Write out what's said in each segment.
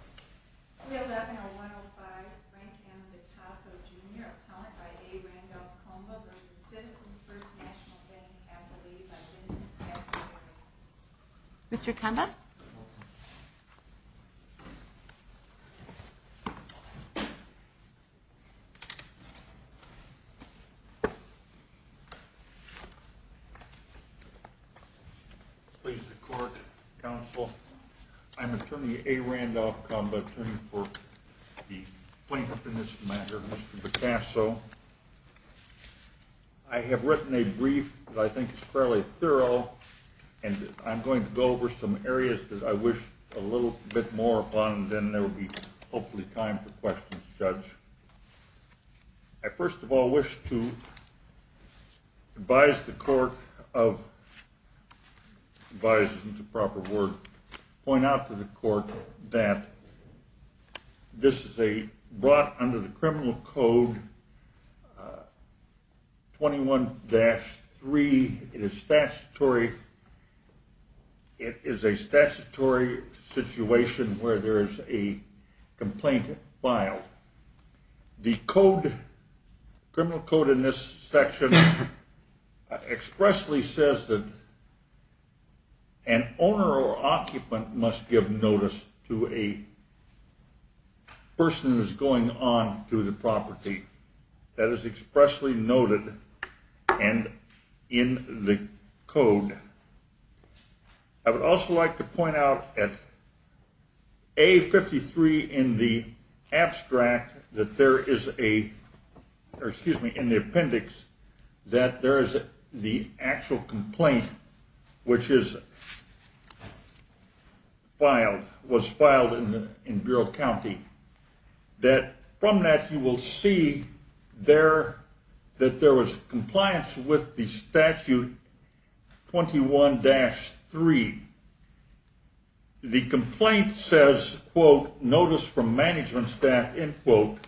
311-105 Frank M. Vitasso, Jr., accountant by A. Randolph Convo, v. Citizens First National Bank, and a lady by the name of Vincent Piazza, Jr. Mr. Convo? Please the court, counsel. I'm attorney A. Randolph Convo, attorney for the plaintiff in this matter, Mr. Vitasso. I have written a brief that I think is fairly thorough, and I'm going to go over some areas that I wish a little bit more upon, and then there will be hopefully time for questions, Judge. I first of all wish to advise the court of, advise isn't the proper word, point out to the court that this is brought under the criminal code 21-3, it is statutory, it is a statutory situation where there is a complaint filed. The code, criminal code in this section expressly says that an owner or occupant must give notice to a person that is going on to the property. That is expressly noted and in the code. I would also like to point out at A53 in the abstract that there is a, or excuse me, in the appendix that there is the actual complaint, which is filed, was filed in Bureau County, that from that you will see that there was compliance with the statute 21-3. The complaint says, quote, notice from management staff, end quote,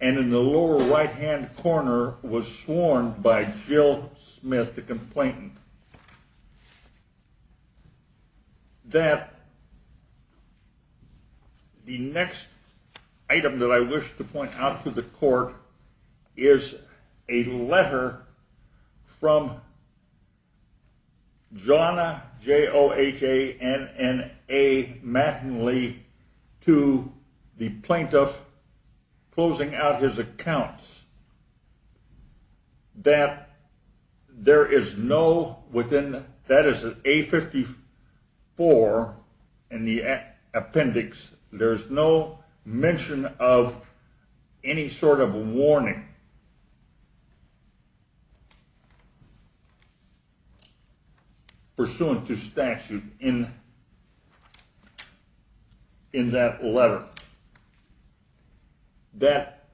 and in the lower right hand corner was sworn by Jill Smith, the complainant. That the next item that I wish to point out to the court is a letter from Johanna, J-O-H-A-N-N-A Mattingly to the plaintiff closing out his accounts. That there is no, that is A54 in the appendix, there is no mention of any sort of warning pursuant to statute in that letter. That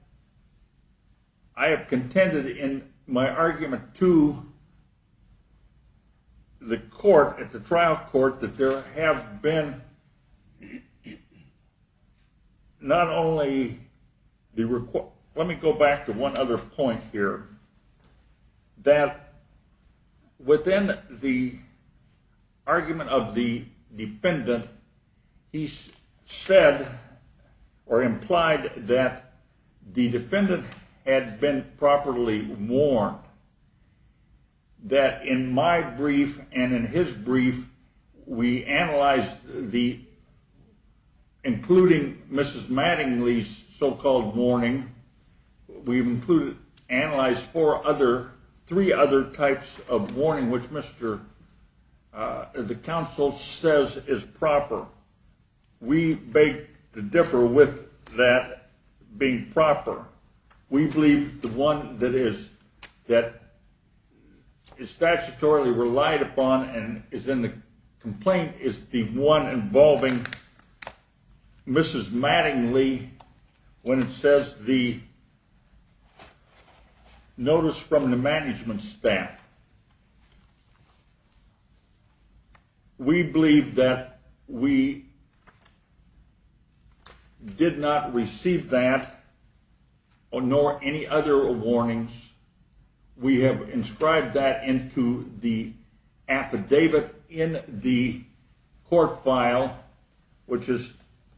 I have contended in my argument to the court, at the trial court, that there have been not only, let me go back to one other point here. That within the argument of the defendant, he said or implied that the defendant had been properly warned. That in my brief and in his brief, we analyzed the, including Mrs. Mattingly's so-called warning, we've analyzed four other, three other types of warning, which Mr., the counsel says is proper. We beg to differ with that being proper. We believe the one that is, that is statutorily relied upon and is in the complaint is the one involving Mrs. Mattingly when it says the notice from the management staff. We believe that we did not receive that, nor any other warnings. We have inscribed that into the affidavit in the court file, which is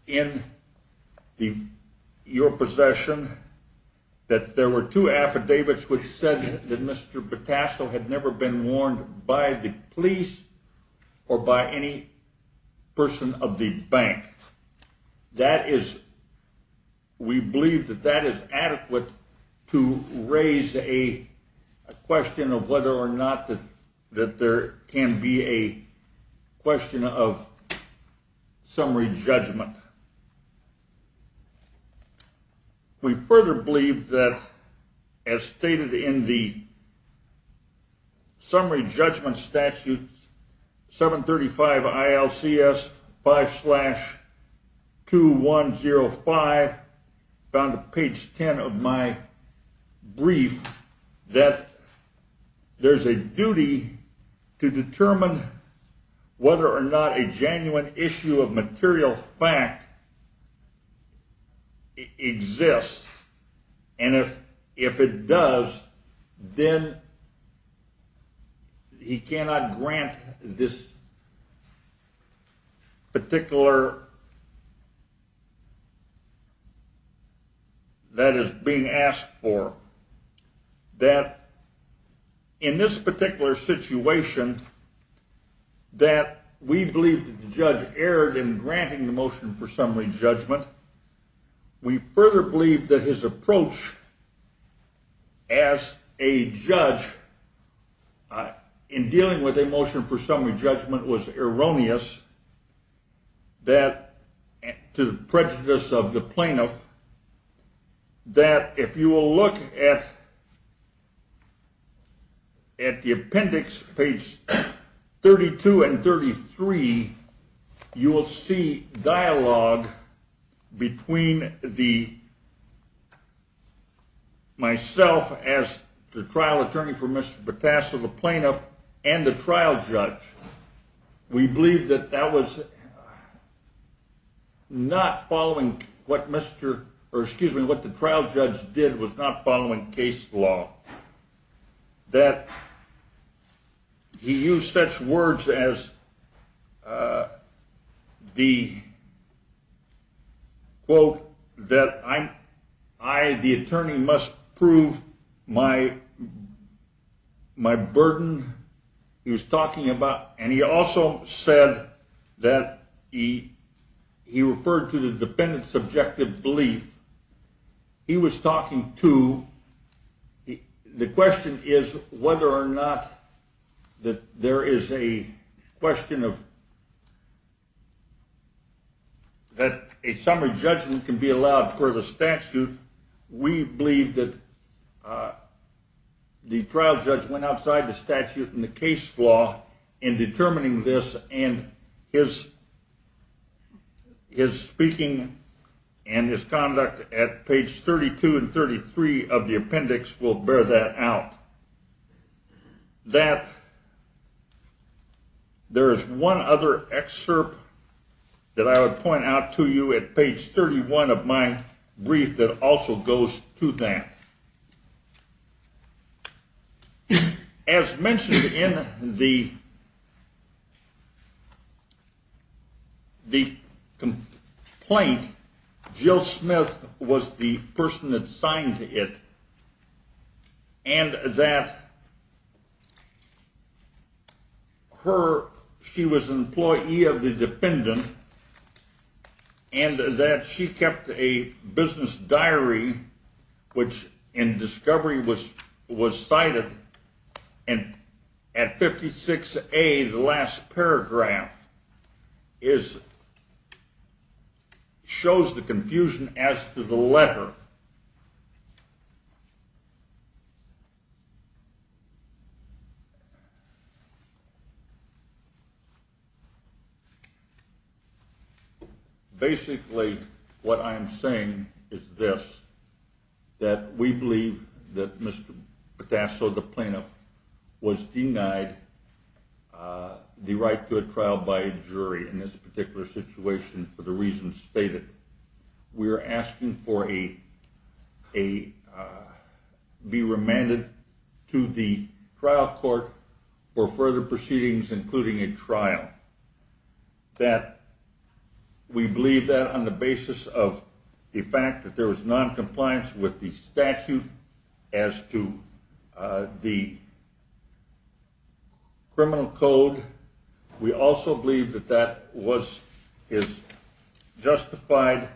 in your possession, that there were two affidavits which said that Mr. Patasso had never been warned by the police or by any person of the bank. That is, we believe that that is adequate to raise a question of whether or not that there can be a question of summary judgment. We further believe that, as stated in the summary judgment statute, 735 ILCS 5-2105, down to page 10 of my brief, that there's a duty to determine whether or not a genuine issue of material facts exists, and if it does, then he cannot grant this particular, that is being asked for. That, in this particular situation, that we believe that the judge erred in granting the motion for summary judgment. We further believe that his approach as a judge in dealing with a motion for summary judgment was erroneous. That, to the prejudice of the plaintiff, that if you will look at the appendix, page 32 and 33, you will see dialogue between myself as the trial attorney for Mr. Patasso, the plaintiff, and the trial judge. We believe that that was not following what the trial judge did was not following case law. That he used such words as the quote that I, the attorney, must prove my burden. He was talking about, and he also said that he referred to the defendant's subjective belief. He was talking to, the question is whether or not there is a question of, that a summary judgment can be allowed for the statute. We believe that the trial judge went outside the statute and the case law in determining this, and his speaking and his conduct at page 32 and 33 of the appendix will bear that out. That there is one other excerpt that I will point out to you at page 31 of my brief that also goes to that. As mentioned in the complaint, Jill Smith was the person that signed it, and that she was an employee of the defendant, and that she kept a business diary which in discovery was cited, and at 56A the last paragraph shows the confusion as to the letter. Basically what I am saying is this, that we believe that Mr. Patasso, the plaintiff, was denied the right to a trial by a jury in this particular situation for the reasons stated. We are asking for a, be remanded to the trial court for further proceedings including a trial. We believe that on the basis of the fact that there was noncompliance with the statute as to the criminal code. We also believe that that was justified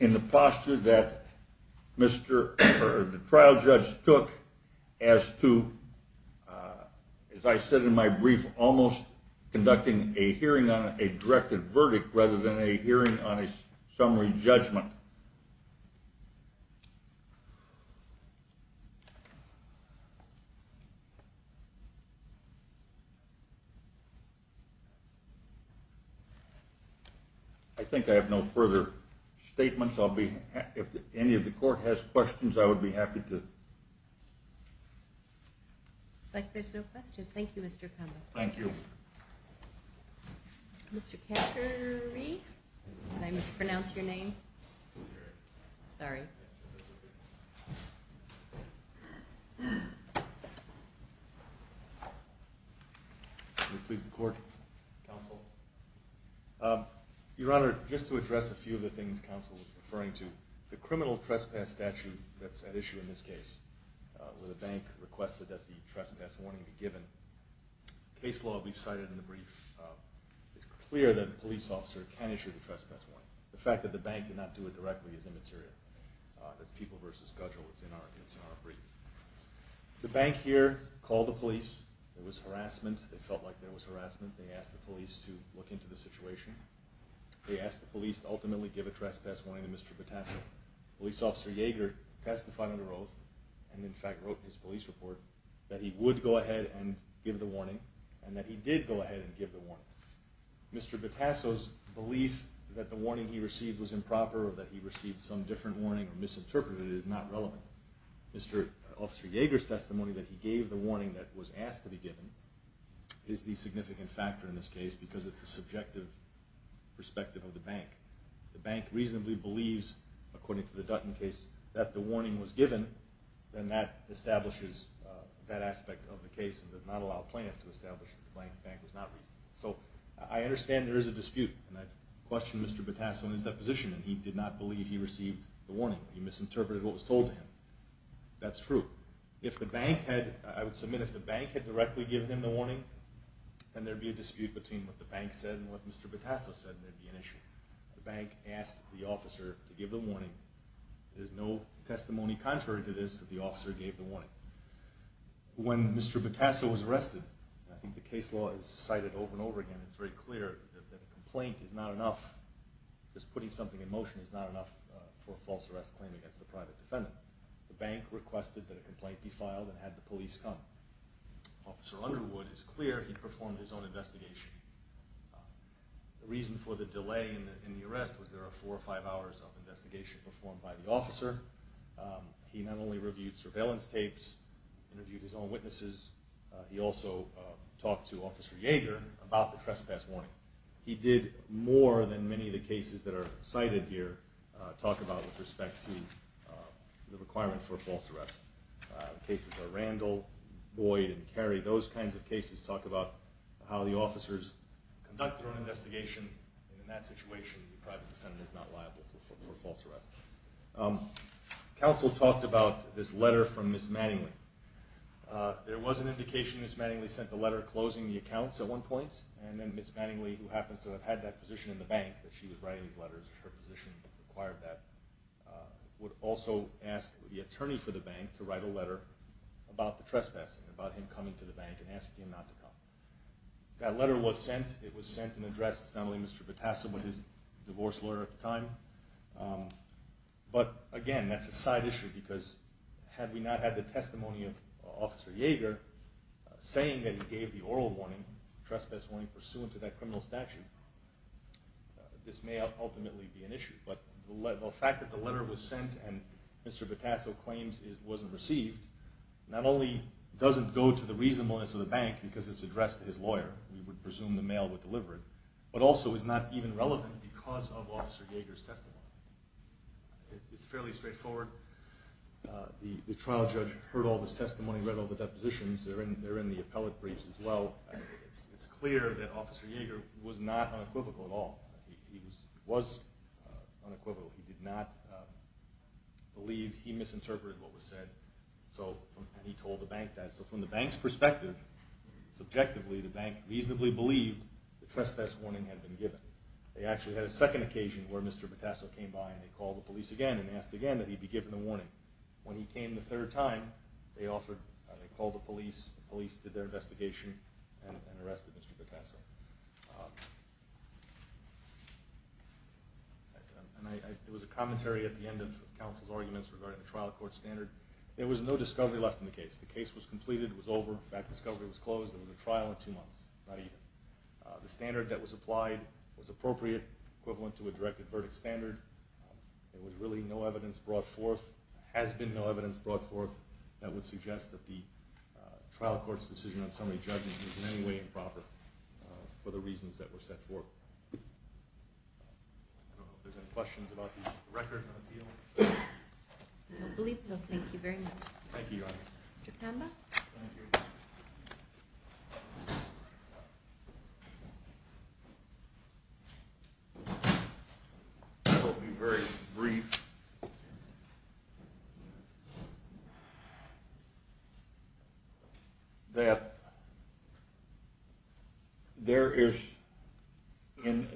in the posture that the trial judge took as to, as I said in my brief, almost conducting a hearing on a directed verdict rather than a hearing on a summary judgment. I think I have no further statements. If any of the court has questions, I would be happy to. Looks like there are no questions. Thank you, Mr. Cummings. Thank you. Mr. Cattery, did I mispronounce your name? Sorry. Can you please record, counsel? Your Honor, just to address a few of the things counsel was referring to. The criminal trespass statute that's at issue in this case, where the bank requested that the trespass warning be given. Case law we've cited in the brief is clear that a police officer can issue the trespass warning. The fact that the bank did not do it directly is immaterial. That's people versus schedule. It's in our brief. The bank here called the police. There was harassment. They felt like there was harassment. They asked the police to look into the situation. They asked the police to ultimately give a trespass warning to Mr. Batasso. Police officer Yeager testified under oath and in fact wrote his police report that he would go ahead and give the warning and that he did go ahead and give the warning. Mr. Batasso's belief that the warning he received was improper or that he received some different warning or misinterpreted it is not relevant. Mr. Officer Yeager's testimony that he gave the warning that was asked to be given is the significant factor in this case because it's the subjective perspective of the bank. The bank reasonably believes, according to the Dutton case, that the warning was given and that establishes that aspect of the case and does not allow plaintiffs to establish that the bank was not reasonable. So I understand there is a dispute and I've questioned Mr. Batasso in his deposition and he did not believe he received the warning. He misinterpreted what was told to him. That's true. If the bank had, I would submit if the bank had directly given him the warning, then there would be a dispute between what the bank said and what Mr. Batasso said and there would be an issue. The bank asked the officer to give the warning. There's no testimony contrary to this that the officer gave the warning. When Mr. Batasso was arrested, I think the case law is cited over and over again, it's very clear that a complaint is not enough. Just putting something in motion is not enough for a false arrest claim against a private defendant. The bank requested that a complaint be filed and had the police come. Officer Underwood is clear he performed his own investigation. The reason for the delay in the arrest was there were four or five hours of investigation performed by the officer. He not only reviewed surveillance tapes, interviewed his own witnesses, he also talked to Officer Yeager about the trespass warning. He did more than many of the cases that are cited here talk about with respect to the requirement for a false arrest. Cases like Randall, Boyd, and Carey, those kinds of cases talk about how the officers conduct their own investigation. In that situation, the private defendant is not liable for false arrest. Counsel talked about this letter from Ms. Manningly. There was an indication Ms. Manningly sent a letter closing the accounts at one point, and then Ms. Manningly, who happens to have had that position in the bank that she was writing these letters, her position required that, would also ask the attorney for the bank to write a letter about the trespassing, about him coming to the bank and asking him not to come. That letter was sent. It was sent and addressed not only Mr. Batasso, but his divorce lawyer at the time. But again, that's a side issue because had we not had the testimony of Officer Yeager, saying that he gave the oral warning, trespass warning, pursuant to that criminal statute, this may ultimately be an issue. But the fact that the letter was sent and Mr. Batasso claims it wasn't received, not only doesn't go to the reasonableness of the bank because it's addressed to his lawyer, we would presume the mail was delivered, but also is not even relevant because of Officer Yeager's testimony. It's fairly straightforward. The trial judge heard all this testimony, read all the depositions. They're in the appellate briefs as well. It's clear that Officer Yeager was not unequivocal at all. He was unequivocal. He did not believe he misinterpreted what was said, and he told the bank that. So from the bank's perspective, subjectively, the bank reasonably believed the trespass warning had been given. They actually had a second occasion where Mr. Batasso came by and they called the police again and asked again that he be given a warning. When he came the third time, they called the police. The police did their investigation and arrested Mr. Batasso. There was a commentary at the end of counsel's arguments regarding the trial court standard. There was no discovery left in the case. The case was completed. It was over. In fact, discovery was closed. It was a trial in two months, not even. The standard that was applied was appropriate, equivalent to a directed verdict standard. There was really no evidence brought forth, has been no evidence brought forth, that would suggest that the trial court's decision on summary judgment was in any way improper for the reasons that were set forth. I don't know if there's any questions about the record of the appeal. I don't believe so. Thank you very much. Thank you, Your Honor. Mr. Kamba. Thank you. I will be very brief. There is, in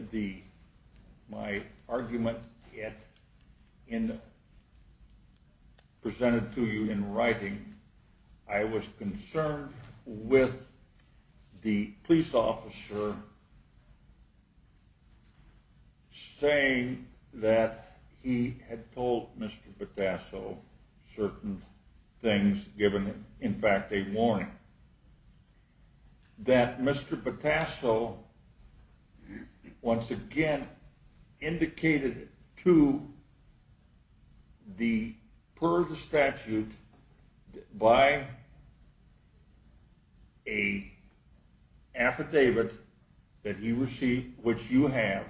my argument presented to you in writing, I was concerned with the police officer saying that he had told Mr. Batasso certain things, given in fact a warning, that Mr. Batasso, once again, indicated to the per the statute by an affidavit which you have,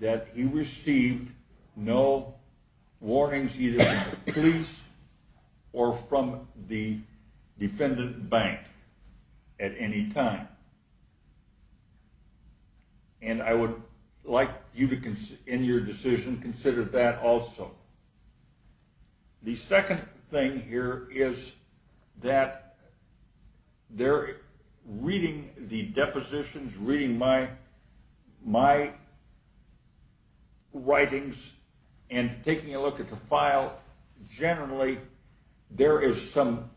that he received no warnings either from the police or from the defendant bank at any time. And I would like you to, in your decision, consider that also. The second thing here is that reading the depositions, reading my writings, and taking a look at the file, generally there is some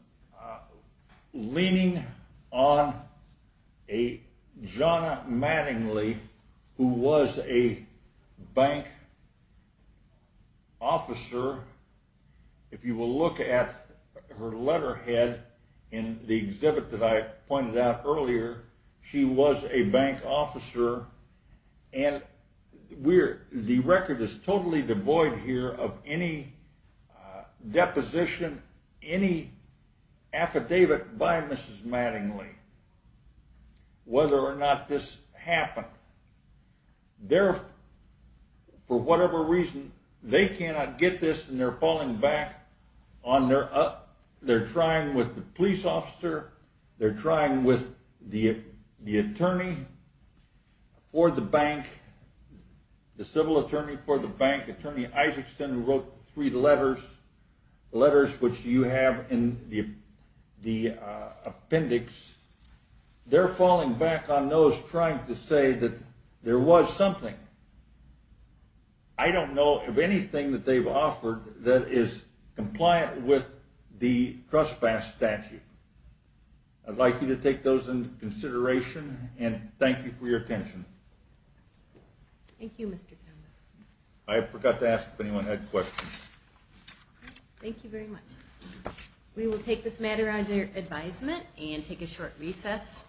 leaning on a Jonna Mattingly, who was a bank officer. If you will look at her letterhead in the exhibit that I pointed out earlier, she was a bank officer. And the record is totally devoid here of any deposition, any affidavit by Mrs. Mattingly, whether or not this happened. They are, for whatever reason, they cannot get this and they are falling back, they are trying with the police officer, they are trying with the attorney for the bank the civil attorney for the bank, attorney Isaacson, who wrote three letters, letters which you have in the appendix, they are falling back on those trying to say that there was something. I don't know of anything that they have offered that is compliant with the trespass statute. I would like you to take those into consideration and thank you for your attention. Thank you Mr. Townsend. I forgot to ask if anyone had questions. Thank you very much. We will take this matter under advisement and take a short recess.